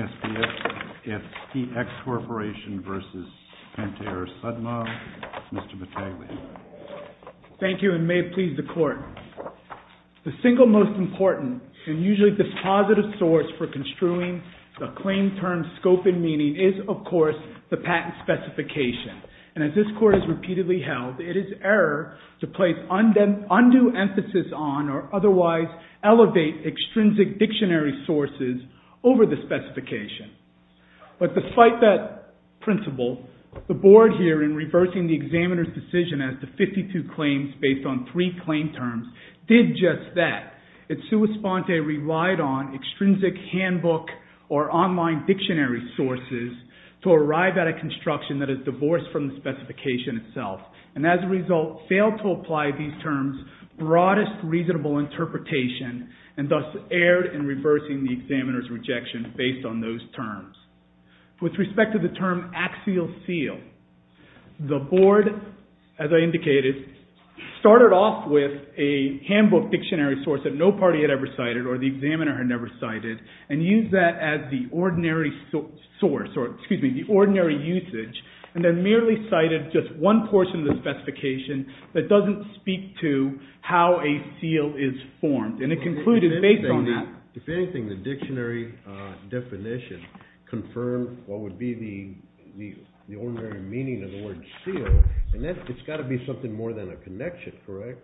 1716 SPS The single most important and usually dispositive source for construing the claim term scope and meaning is, of course, the patent specification. And as this Court has repeatedly held, it is error to place undue emphasis on or otherwise elevate extrinsic dictionary sources over the specification. But despite that principle, the Board here in reversing the examiner's decision as to 52 claims based on three claim terms did just that. It sui sponte relied on extrinsic handbook or online dictionary sources to arrive at a construction that is divorced from the specification itself and as a result failed to apply these and thus erred in reversing the examiner's rejection based on those terms. With respect to the term axial seal, the Board, as I indicated, started off with a handbook dictionary source that no party had ever cited or the examiner had never cited and used that as the ordinary source or, excuse me, the ordinary usage and then merely cited just one portion of the specification that doesn't speak to how a seal is formed and it concluded based on that. If anything, the dictionary definition confirmed what would be the ordinary meaning of the word seal and it's got to be something more than a connection, correct?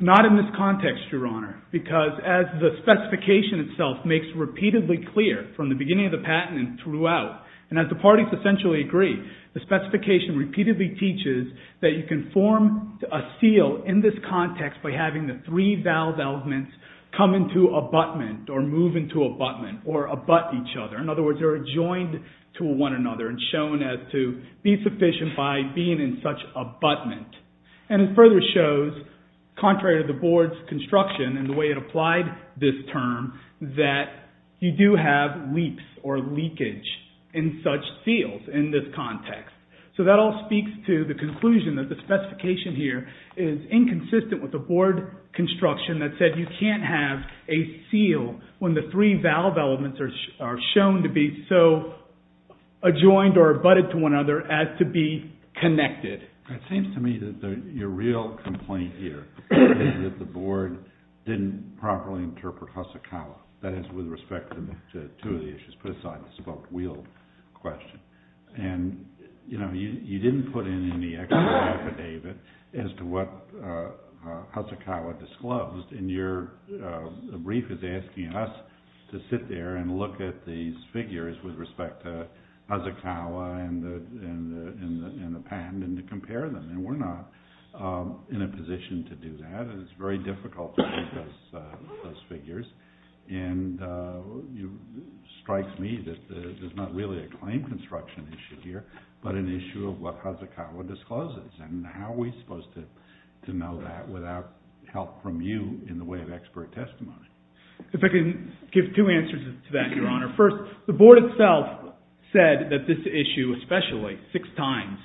Not in this context, Your Honor, because as the specification itself makes repeatedly clear from the beginning of the patent and throughout and as the parties essentially agree, the specification repeatedly teaches that you can form a seal in this context by having the three valve elements come into abutment or move into abutment or abut each other. In other words, they are joined to one another and shown as to be sufficient by being in such abutment and it further shows, contrary to the Board's construction and the way it So that all speaks to the conclusion that the specification here is inconsistent with the Board construction that said you can't have a seal when the three valve elements are shown to be so adjoined or abutted to one another as to be connected. It seems to me that your real complaint here is that the Board didn't properly interpret Hasekawa. That is with respect to two of the issues put aside, the spoke wheel question. And you know, you didn't put in any extra affidavit as to what Hasekawa disclosed and your brief is asking us to sit there and look at these figures with respect to Hasekawa and the patent and to compare them and we're not in a position to do that and it's very difficult to look at those figures and it strikes me that there's not really a claim construction issue here but an issue of what Hasekawa discloses and how are we supposed to know that without help from you in the way of expert testimony? If I can give two answers to that, Your Honor. First, the Board itself said that this issue, especially six times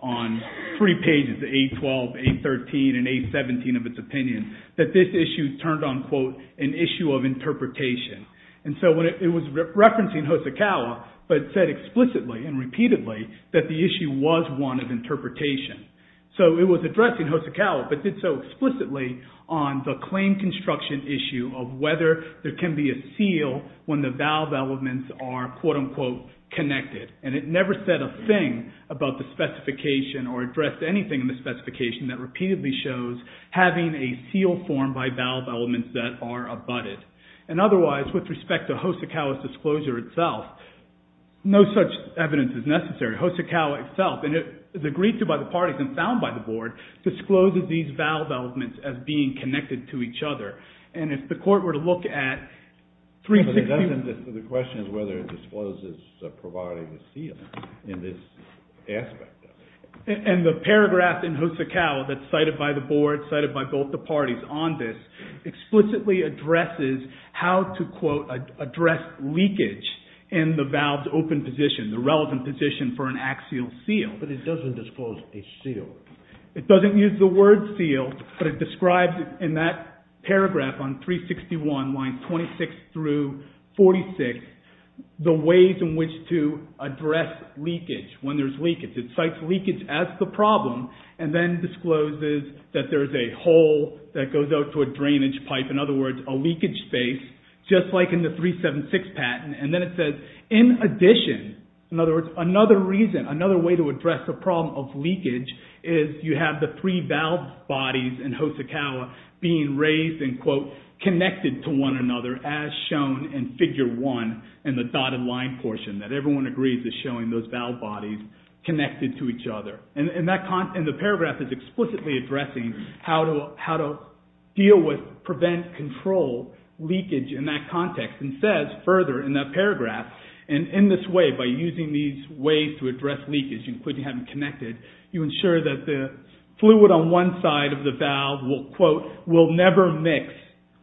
on three pages, the 812, 813 and 817 of its opinion, that this issue turned on, quote, an issue of interpretation. And so when it was referencing Hasekawa but said explicitly and repeatedly that the issue was one of interpretation. So it was addressing Hasekawa but did so explicitly on the claim construction issue of whether there can be a seal when the valve elements are, quote, unquote, connected. And it never said a thing about the specification or addressed anything in the specification that repeatedly shows having a seal formed by valve elements that are abutted. And otherwise, with respect to Hasekawa's disclosure itself, no such evidence is necessary. Hasekawa itself, and it's agreed to by the parties and found by the Board, discloses these valve elements as being connected to each other. And if the Court were to look at 360… …in this aspect of it. And the paragraph in Hasekawa that's cited by the Board, cited by both the parties on this, explicitly addresses how to, quote, address leakage in the valve's open position, the relevant position for an axial seal. But it doesn't disclose a seal. It doesn't use the word seal, but it describes in that paragraph on 361, lines 26 through 46, the ways in which to address leakage, when there's leakage. It cites leakage as the problem and then discloses that there's a hole that goes out to a drainage pipe, in other words, a leakage space, just like in the 376 patent. And then it says, in addition, in other words, another reason, another way to address the problem of leakage is you have the three valve bodies in Hasekawa being raised and, quote, connected to one another as shown in figure one in the dotted line portion, that everyone agrees is showing those valve bodies connected to each other. And the paragraph is explicitly addressing how to deal with, prevent, control leakage in that context and says further in that paragraph, and in this way, by using these ways to address leakage, including having connected, you ensure that the fluid on one side of the valve will, will never mix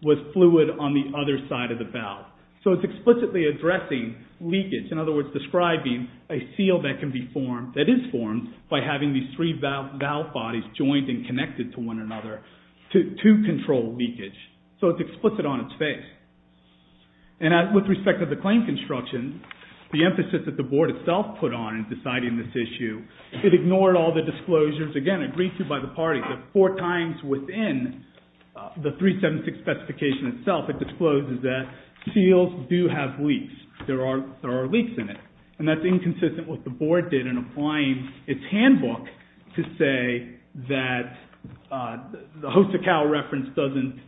with fluid on the other side of the valve. So it's explicitly addressing leakage, in other words, describing a seal that can be formed, that is formed, by having these three valve bodies joined and connected to one another to control leakage. So it's explicit on its face. And with respect to the claim construction, the emphasis that the board itself put on in deciding this issue, it ignored all the disclosures, again, agreed to by the parties, that four times within the 376 specification itself, it discloses that seals do have leaks. There are, there are leaks in it. And that's inconsistent with what the board did in applying its handbook to say that the Hasekawa reference doesn't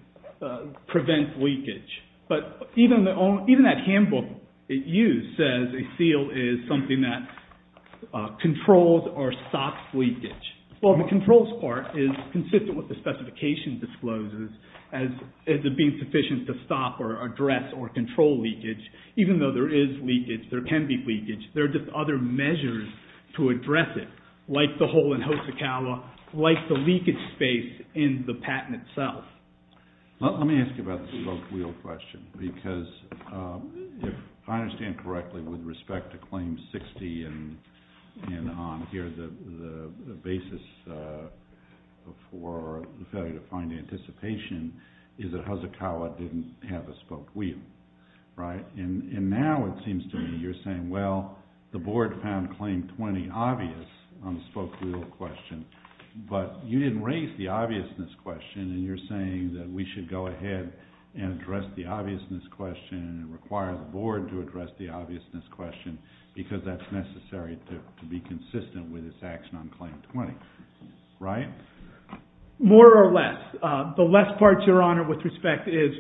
prevent leakage. But even the, even that handbook it used says a seal is something that controls or stops leakage. Well, the controls part is consistent with the specification discloses as, as it being sufficient to stop or address or control leakage. Even though there is leakage, there can be leakage, there are just other measures to address it, like the hole in Hasekawa, like the leakage space in the patent itself. Let me ask you about the spoke wheel question, because if I understand correctly, with respect to claim 60 and, and on here, the, the basis for the failure to find the anticipation is that Hasekawa didn't have a spoke wheel, right? And now it seems to me you're saying, well, the board found claim 20 obvious on the spoke wheel question, but you didn't raise the obviousness question and you're saying that we should go ahead and address the obviousness question and require the board to address the obviousness question because that's necessary to be consistent with its action on claim 20, right? More or less. The less part, Your Honor, with respect is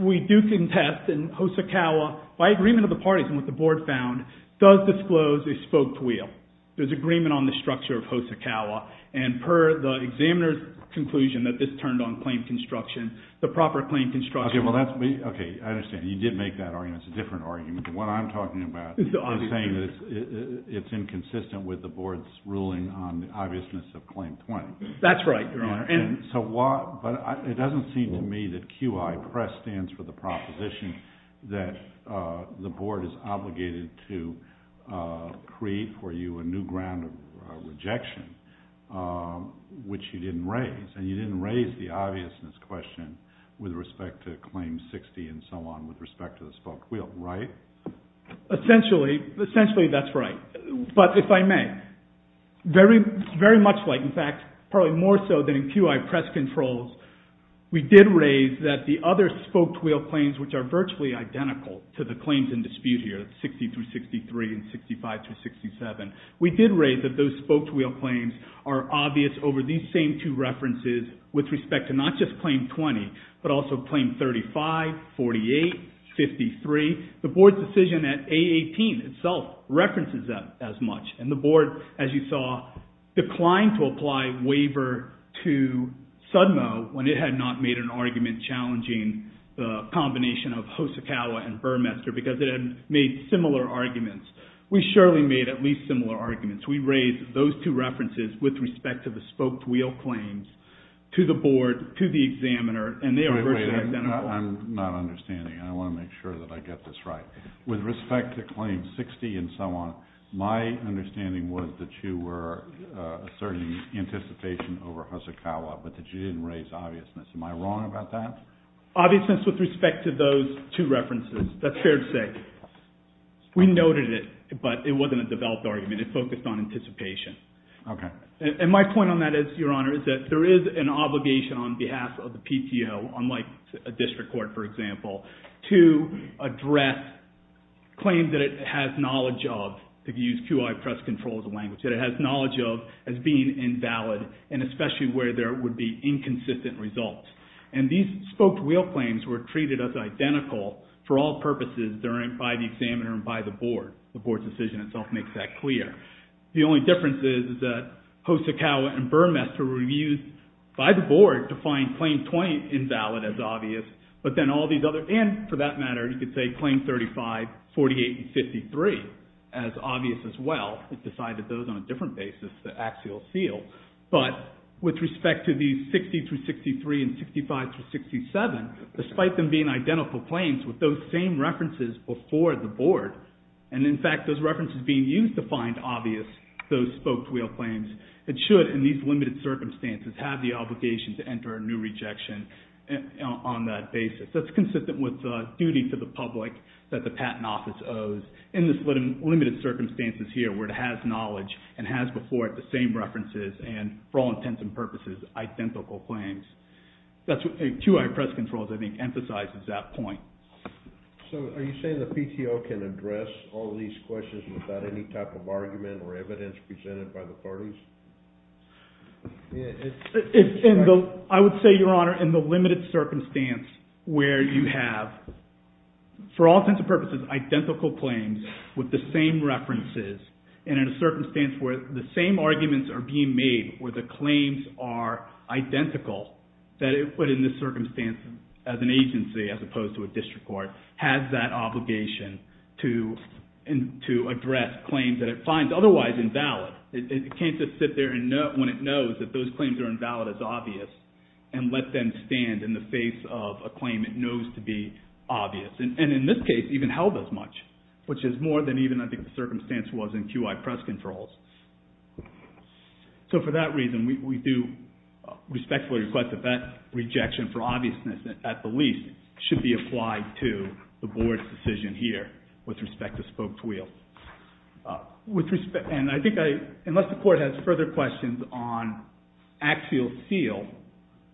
we do contest in Hasekawa by agreement of the parties and what the board found does disclose a spoke wheel. There's agreement on the structure of Hasekawa and per the examiner's conclusion that this turned on claim construction, the proper claim construction. Okay, well that's, okay, I understand. You did make that argument. It's a different argument. The one I'm talking about is saying that it's inconsistent with the board's ruling on the obviousness of claim 20. That's right, Your Honor. And so what, but it doesn't seem to me that QI press stands for the proposition that the board is obligated to create for you a new ground of rejection, which you didn't raise and you didn't raise the obviousness question with respect to claim 60 and so on with respect to the spoke wheel, right? Essentially, essentially that's right. But if I may, very, very much like, in fact, probably more so than in QI press controls, we did raise that the other spoke wheel claims, which are virtually identical to the claims in dispute here, 60 through 63 and 65 through 67, we did raise that those spoke wheel claims are obvious over these same two references with respect to not just claim 20, but also claim 35, 48, 53. The board's decision at A18 itself references that as much. And the board, as you saw, declined to apply waiver to SUDMO when it had not made an argument challenging the combination of Hosokawa and Burmester because it had made similar arguments. We surely made at least similar arguments. We raised those two references with respect to the spoke wheel claims to the board, to the examiner, and they are virtually identical. I'm not understanding. I want to make sure that I get this right. With respect to claim 60 and so on, my understanding was that you were asserting anticipation over Hosokawa, but that you didn't raise obviousness. Am I wrong about that? Obviousness with respect to those two references. That's fair to say. We noted it, but it wasn't a developed argument. It focused on anticipation. Okay. And my point on that is, Your Honor, is that there is an obligation on behalf of the PTO, unlike a district court, for example, to address claims that it has knowledge of, to use QI press control as a language, that it has knowledge of as being invalid, and especially where there would be inconsistent results. And these spoke wheel claims were treated as identical for all purposes by the examiner and by the board. The board's decision itself makes that clear. The only difference is that Hosokawa and Burmester were used by the board to find claim 20 invalid as obvious, and for that matter, you could say claim 35, 48, and 53 as obvious as well. It decided those on a different basis, the axial seal. But with respect to these 60 through 63 and 65 through 67, despite them being identical claims with those same references before the board, and in fact, those references being used to find obvious, those spoke wheel claims, it should, in these limited circumstances, have the obligation to enter a new rejection on that basis. That's consistent with the duty to the public that the Patent Office owes in this limited circumstances here, where it has knowledge and has before it the same references and, for all intents and purposes, identical claims. That's what QI press control, I think, emphasizes that point. So are you saying the PTO can address all of these questions without any type of argument or evidence presented by the parties? I would say, Your Honor, in the limited circumstance where you have, for all intents and purposes, identical claims with the same references, and in a circumstance where the same arguments are being made, where the claims are identical, that it would, in this circumstance, as an individual district court, has that obligation to address claims that it finds otherwise invalid. It can't just sit there when it knows that those claims are invalid as obvious and let them stand in the face of a claim it knows to be obvious, and in this case, even held as much, which is more than even, I think, the circumstance was in QI press controls. So for that reason, we do respectfully request that that rejection for obviousness, at the least, should be applied to the board's decision here with respect to spoked wheel. And I think, unless the court has further questions on axial seal,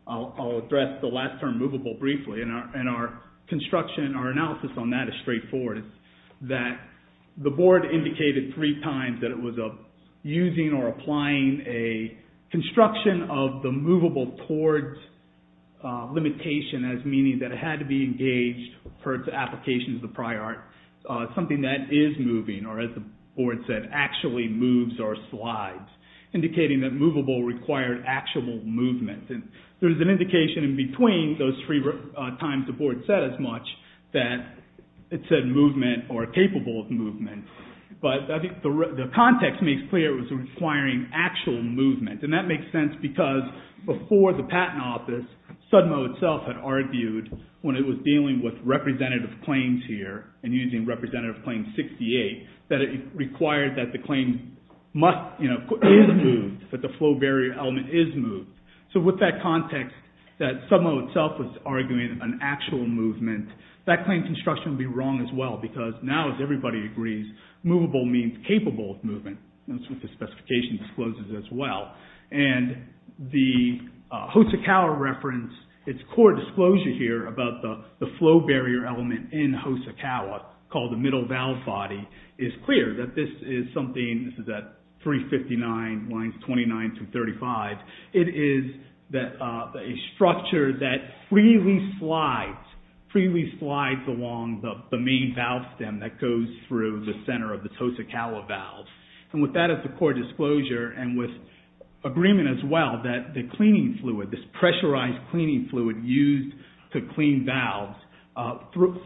I'll address the last term, movable, briefly, and our construction, our analysis on that is straightforward. The board indicated three times that it was using or applying a construction of the movable towards limitation as meaning that it had to be engaged for its application of the prior art, something that is moving, or as the board said, actually moves or slides, indicating that movable required actual movement. And there's an indication in between those three times the board said as much that it said movement or capable of movement, but I think the context makes clear it was requiring actual movement, and that makes sense because before the patent office, SUDMO itself had argued when it was dealing with representative claims here and using Representative Claim 68, that it required that the claim must, you know, is moved, that the flow barrier element is moved. So with that context, that SUDMO itself was arguing an actual movement, that claim construction would be wrong as well because now, as everybody agrees, movable means capable of movement, and that's what the specification discloses as well. And the Hosokawa reference, its core disclosure here about the flow barrier element in Hosokawa called the middle valve body is clear that this is something, this is at 359 lines 29 to 35, it is a structure that freely slides, freely slides along the main valve stem that goes through the center of this Hosokawa valve. And with that as the core disclosure and with agreement as well that the cleaning fluid, this pressurized cleaning fluid used to clean valves,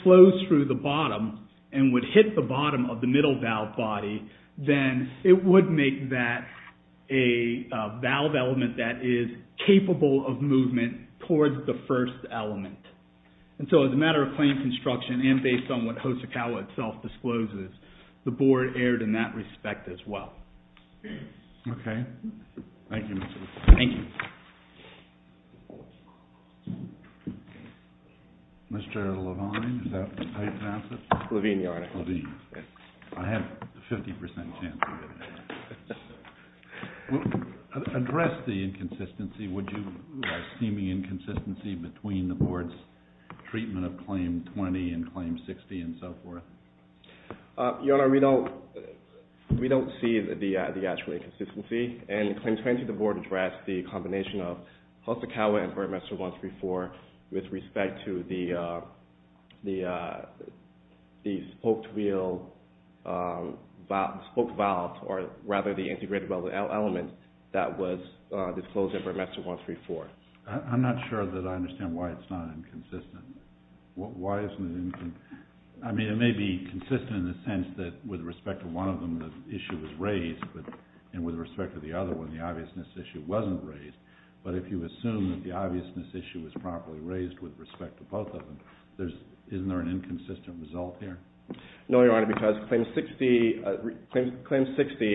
flows through the bottom and would hit the bottom of the middle valve body, then it would make that a valve element that is capable of movement towards the first element. And so as a matter of claim construction and based on what Hosokawa itself discloses, the board erred in that respect as well. Okay. Thank you, Mr. Levine. Thank you. Mr. Levine, is that how you pronounce it? Levine, Your Honor. Levine. I have a 50% chance of it. Address the inconsistency, would you, a seeming inconsistency between the board's treatment of Claim 20 and Claim 60 and so forth? Your Honor, we don't see the actual inconsistency. In Claim 20, the board addressed the combination of Hosokawa and Burmester 134 with respect to the spoked wheel, spoked valve, or rather the integrated valve element that was disclosed in Burmester 134. I'm not sure that I understand why it's not inconsistent. Why isn't it inconsistent? I mean, it may be consistent in the sense that with respect to one of them, the issue was raised, and with respect to the other one, the obviousness issue wasn't raised. But if you assume that the obviousness issue was properly raised with respect to both of them, isn't there an inconsistent result here? No, Your Honor, because Claim 60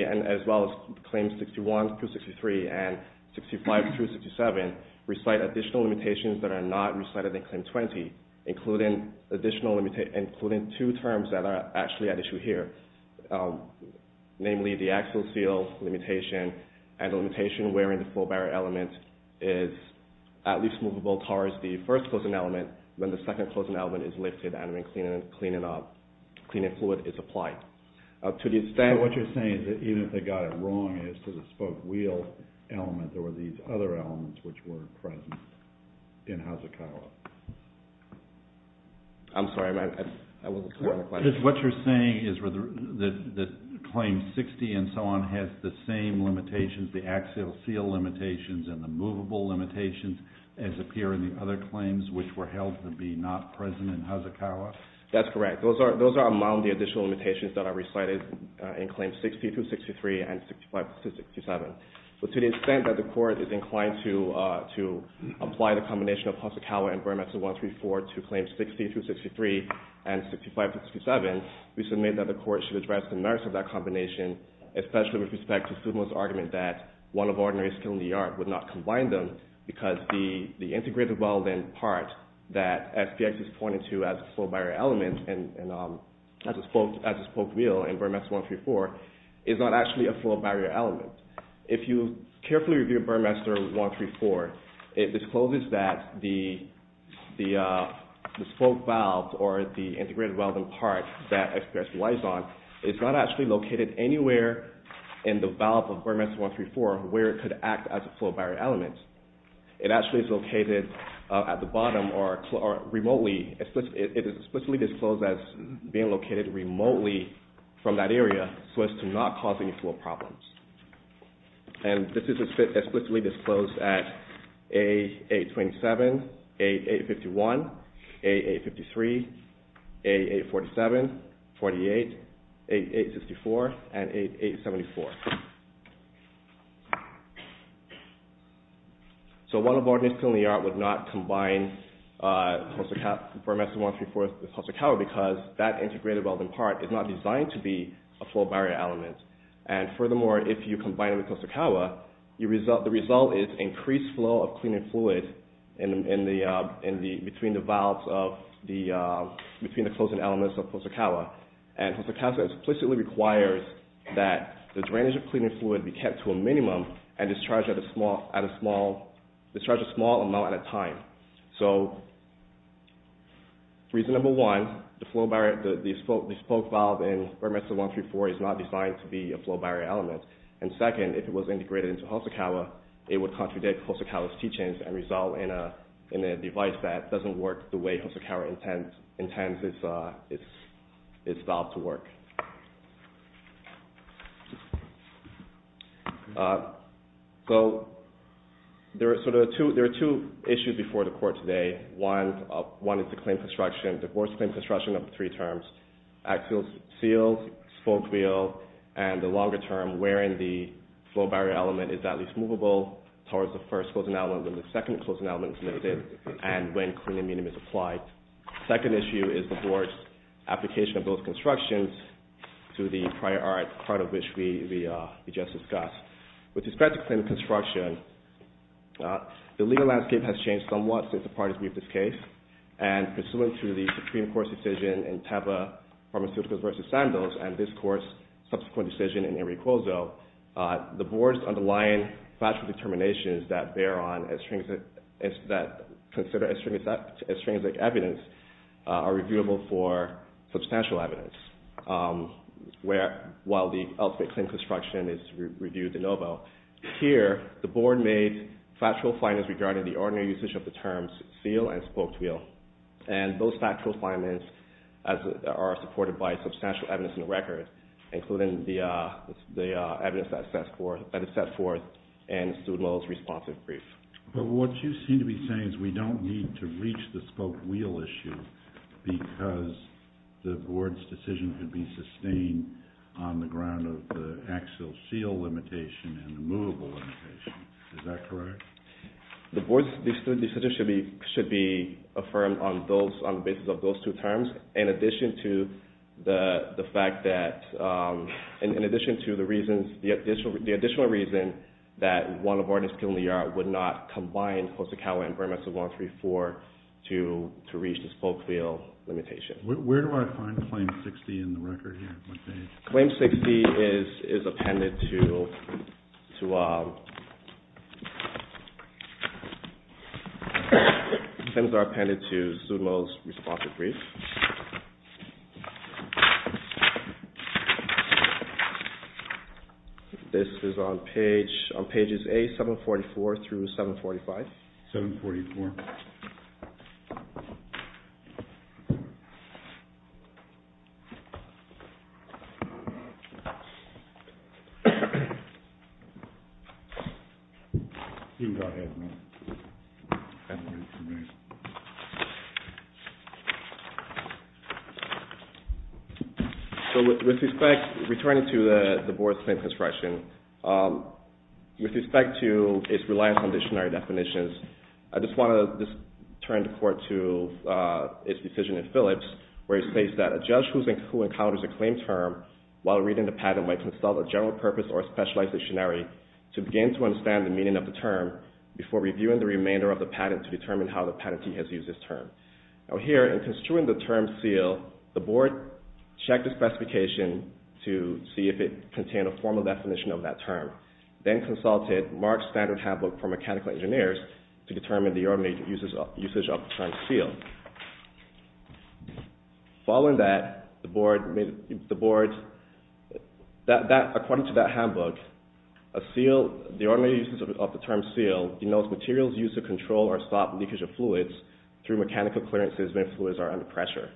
as well as Claim 61 through 63 and 65 through 67 recite additional limitations that are not recited in Claim 20, including two terms that are actually at issue here, namely the axial seal limitation and the limitation where the full barrier element is at least movable towards the first closing element when the second cleaning fluid is applied. So what you're saying is that even if they got it wrong as to the spoked wheel element, there were these other elements which were present in Hosokawa? I'm sorry, I have a question. What you're saying is that Claim 60 and so on has the same limitations, the axial seal limitations and the movable limitations as appear in the other claims which were held to be not present in Hosokawa? That's correct. Those are among the additional limitations that are recited in Claim 60 through 63 and 65 through 67. But to the extent that the Court is inclined to apply the combination of Hosokawa and Burmeister 134 to Claim 60 through 63 and 65 through 67, we submit that the Court should address the merits of that combination, especially with respect to Sumo's argument that one of the integrated weld-in parts that SPS is pointing to as a full barrier element and as a spoked wheel in Burmeister 134 is not actually a full barrier element. If you carefully review Burmeister 134, it discloses that the spoked valve or the integrated weld-in part that SPS relies on is not actually located anywhere in the valve of Burmeister 134 where it could act as a full barrier element. It actually is located at the bottom or remotely. It is explicitly disclosed as being located remotely from that area so as to not cause any flow problems. And this is explicitly disclosed at A827, A851, A853, A847, A848, A864, and A874. So one of our disclosures in the art would not combine Burmeister 134 with Hosokawa because that integrated weld-in part is not designed to be a full barrier element. And furthermore, if you combine it with Hosokawa, the result is increased flow of cleaning fluid between the valves of the, between the closing elements of Hosokawa. And Hosokawa explicitly requires that the drainage of cleaning fluid be kept to a minimum and discharged at a small amount at a time. So, reason number one, the spoke valve in Burmeister 134 is not designed to be a full barrier element. And second, if it was integrated into Hosokawa, it would contradict Hosokawa's teachings and result in a device that doesn't work the way Hosokawa intends its valve to work. So, there are sort of two, there are two issues before the court today. One, one is the claim construction, divorce claim construction of three terms. Axial seals, spoke wheel, and the longer term, where in the full barrier element is at least movable towards the first closing element, when the second closing element is lifted and when cleaning medium is applied. Second issue is the board's application of those constructions. To the prior art, part of which we just discussed. With respect to claim construction, the legal landscape has changed somewhat since the parties briefed this case. And pursuant to the Supreme Court's decision in Teva Pharmaceuticals v. Sandoz and this court's subsequent decision in Enricozzo, the board's underlying factual determinations that bear on, that consider as stringent evidence are reviewable for substantial evidence. Where, while the ultimate claim construction is reviewed de novo. Here, the board made factual findings regarding the ordinary usage of the terms seal and spoke wheel. And those factual findings are supported by substantial evidence in the record, including the evidence that is set forth in Sudmo's responsive brief. But what you seem to be saying is we don't need to reach the spoke wheel issue because the board's decision could be sustained on the ground of the axial seal limitation and the movable limitation. Is that correct? The board's decision should be affirmed on the basis of those two terms, in addition to the fact that, in addition to the reasons, the additional reason that one of the artists would not combine Hosokawa and Burmeister 134 to reach the spoke wheel limitation. Where do I find Claim 60 in the record here? Claim 60 is appended to Sudmo's responsive brief. This is on page, on pages A744 through 745. 744. So, with respect, returning to the board's claim construction, with respect to its reliance on dictionary definitions, I just want to turn the court to its decision in Phillips where it states that a judge who encounters a claim term while reading the patent might consult a general purpose or specialized dictionary to begin to understand the meaning of the remainder of the patent to determine how the patentee has used this term. Now here, in construing the term seal, the board checked the specification to see if it contained a formal definition of that term, then consulted Mark's standard handbook for mechanical engineers to determine the ordinary usage of the term seal. Following that, the board, according to that handbook, the ordinary usage of the term seal denotes materials used to control or stop leakage of fluids through mechanical clearances when fluids are under pressure.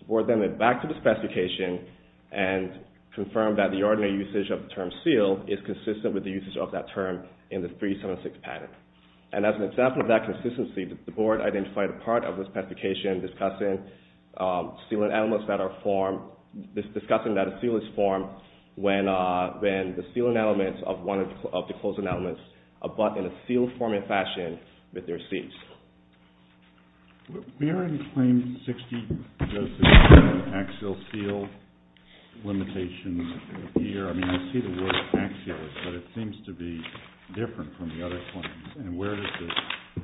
The board then went back to the specification and confirmed that the ordinary usage of the term seal is consistent with the usage of that term in the 376 patent. And as an example of that consistency, the board identified a part of the specification discussing that a seal is formed when the sealing elements of one of the closing elements abut in a seal-forming fashion with their seats. Where in Claim 60 does the term axial seal limitation appear? I mean, I see the word axial, but it seems to be different from the other claims. And where does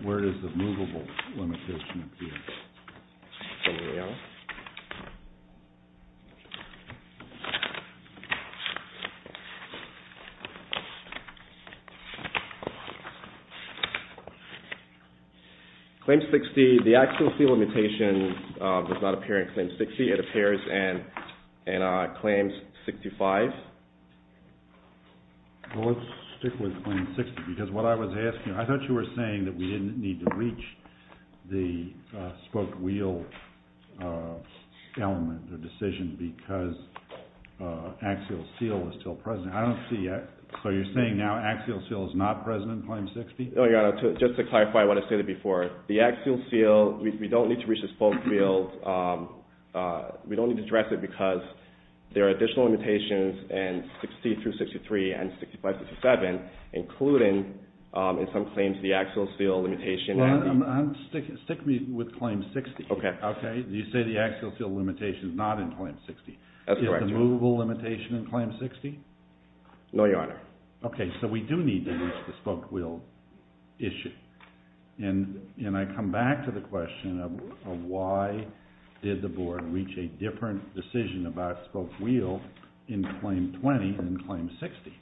the movable limitation appear? Claim 60, the axial seal limitation does not appear in Claim 60. It appears in Claim 65. Well, let's stick with Claim 60. Because what I was asking, I thought you were saying that we didn't need to reach the spoke wheel element, the decision, because axial seal is still present. So you're saying now axial seal is not present in Claim 60? Just to clarify what I said before, the axial seal, we don't need to reach the spoke wheel. We don't need to address it because there are additional limitations in 60-63 and 65-67, including in some claims the axial seal limitation. Well, stick me with Claim 60. Okay. You say the axial seal limitation is not in Claim 60. That's correct. Is there a movable limitation in Claim 60? No, Your Honor. Okay. So we do need to reach the spoke wheel issue. And I come back to the question of why did the Board reach a different decision about spoke wheel in Claim 20 than in Claim 60?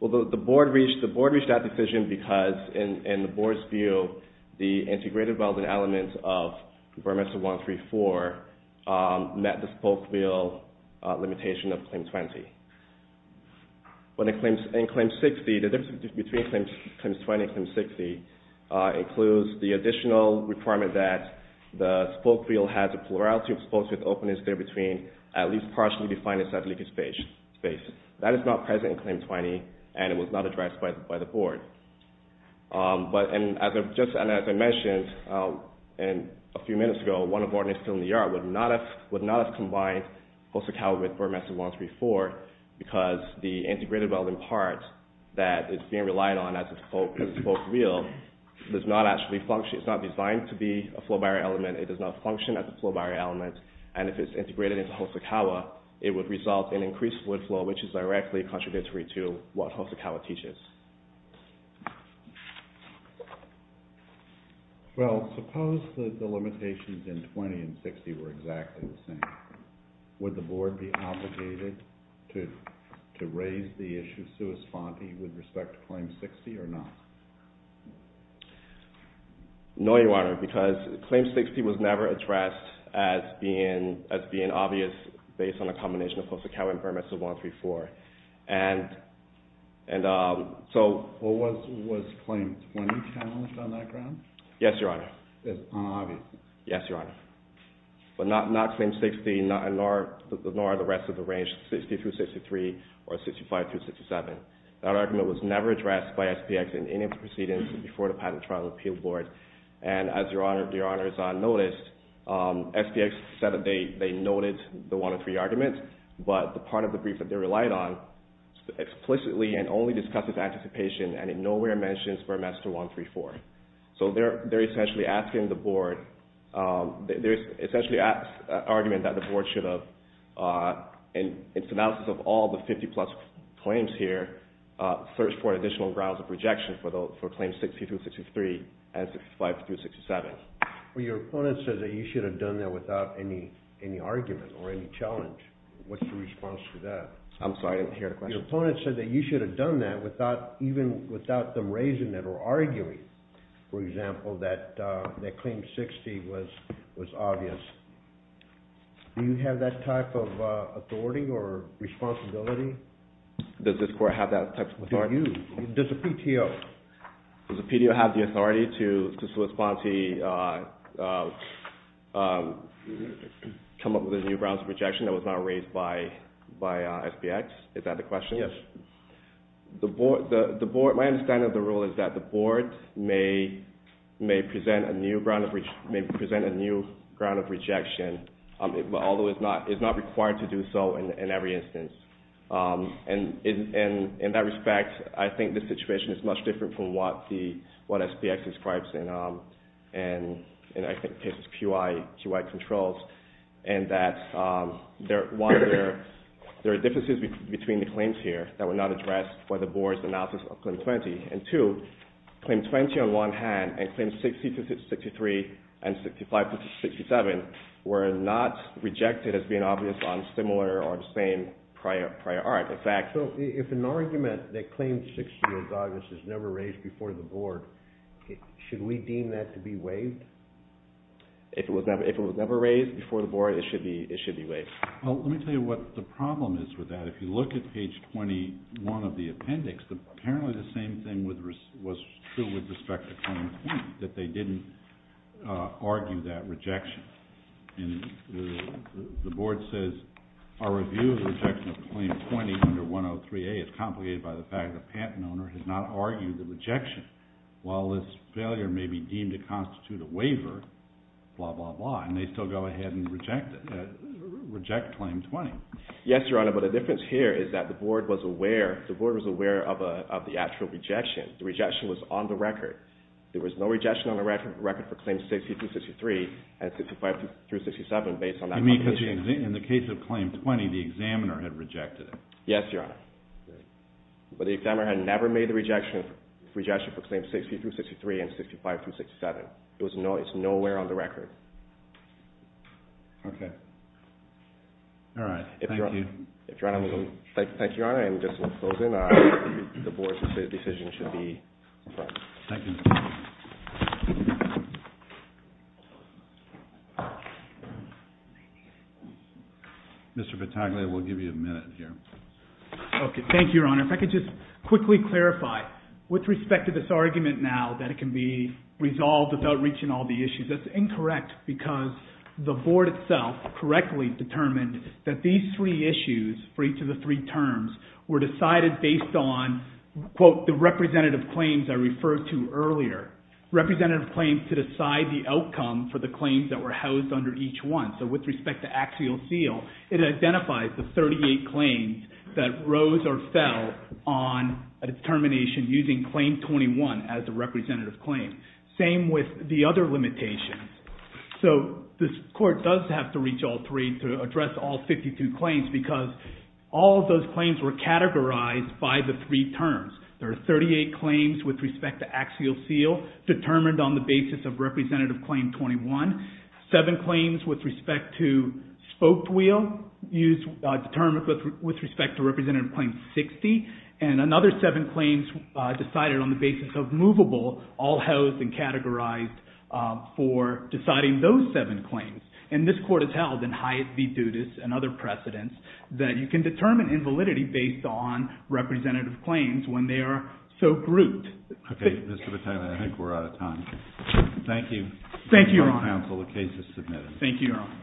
Well, the Board reached that decision because, in the Board's view, the integrated welded elements of Burmester 134 met the spoke wheel limitation of Claim 20. But in Claim 60, the difference between Claim 20 and Claim 60 includes the additional requirement that the spoke wheel has a plurality of spokes with openness there between at least partially defined and slightly spaced. That is not present in Claim 20, and it was not addressed by the Board. But, and just as I mentioned a few minutes ago, one of the ordinances in the yard would not have combined Hosokawa with Burmester 134 because the integrated welding part that is being relied on as a spoke wheel does not actually function. It's not designed to be a flow barrier element. It does not function as a flow barrier element. And if it's integrated into Hosokawa, it would result in increased fluid flow, which is directly contradictory to what Hosokawa teaches. Well, suppose that the limitations in 20 and 60 were exactly the same. Would the Board be obligated to raise the issue sui sponte with respect to Claim 60 or not? No, Your Honor, because Claim 60 was never addressed as being obvious based on a combination of Hosokawa and Burmester 134. And so... Was Claim 20 challenged on that ground? Yes, Your Honor. As unobvious? Yes, Your Honor. But not Claim 60, nor the rest of the range, 60 through 63, or 65 through 67. That argument was never addressed by SPX in any of the proceedings before the Patent Trial and Appeal Board. And as Your Honor has noticed, SPX said that they noted the one of three arguments, but the part of the brief that they relied on explicitly and only discusses anticipation and in nowhere mentions Burmester 134. So they're essentially asking the Board... There's essentially an argument that the Board should have, in synopsis of all the 50-plus claims here, searched for additional grounds of rejection for Claim 60 through 63 and 65 through 67. Well, your opponent says that you should have done that without any argument or any challenge. What's your response to that? I'm sorry, I didn't hear the question. Your opponent said that you should have done that even without them raising it or arguing, for example, that Claim 60 was obvious. Do you have that type of authority or responsibility? Does this Court have that type of authority? Do you? Does the PTO? Does the PTO have the authority to come up with a new grounds of rejection that was not raised by SBX? Is that the question? Yes. My understanding of the rule is that the Board may present a new ground of rejection, although it's not required to do so in every instance. In that respect, I think the situation is much different from what SBX describes in its QI controls in that, one, there are differences between the claims here that were not addressed by the Board's analysis of Claim 20. And two, Claim 20 on one hand and Claim 60 through 63 and 65 through 67 were not rejected as being obvious on similar or the same prior art. So if an argument that Claim 60 was obvious is never raised before the Board, should we deem that to be waived? If it was never raised before the Board, it should be waived. Well, let me tell you what the problem is with that. If you look at page 21 of the appendix, apparently the same thing was true with respect to Claim 20, that they didn't argue that rejection. And the Board says, our review of the rejection of Claim 20 under 103A is complicated by the fact that the patent owner has not argued the rejection. While this failure may be deemed to constitute a waiver, blah, blah, blah, and they still go ahead and reject it, reject Claim 20. Yes, Your Honor, but the difference here is that the Board was aware of the actual rejection. The rejection was on the record. There was no rejection on the record for Claim 60 through 63 and 65 through 67 based on that publication. You mean because in the case of Claim 20, the examiner had rejected it? Yes, Your Honor. But the examiner had never made the rejection for Claim 60 through 63 and 65 through 67. It's nowhere on the record. Okay. All right. Thank you. Thank you, Your Honor, and just in closing, the Board's decision should be affirmed. Thank you. Mr. Pataglia, we'll give you a minute here. Okay. Thank you, Your Honor. If I could just quickly clarify with respect to this argument now that it can be resolved without reaching all the issues. That's incorrect because the Board itself correctly determined that these three issues for each of the three terms were decided based on, quote, the representative claims I referred to earlier, representative claims to decide the outcome for the claims that were housed under each one. So with respect to axial seal, it identifies the 38 claims that rose or fell on a determination using Claim 21 as the representative claim. Same with the other limitations. So this Court does have to reach all three to address all 52 claims because all of those claims were categorized by the three terms. There are 38 claims with respect to axial seal determined on the basis of Representative Claim 21, seven claims with respect to spoked wheel determined with respect to Representative Claim 60, and another seven claims decided on the basis of movable all housed and categorized for deciding those seven claims. And this Court has held in Hyatt v. Dudas and other precedents that you can determine invalidity based on representative claims when they are so grouped. Okay. Mr. Pataglia, I think we're out of time. Thank you. Thank you, Your Honor. The case is submitted. Thank you, Your Honor.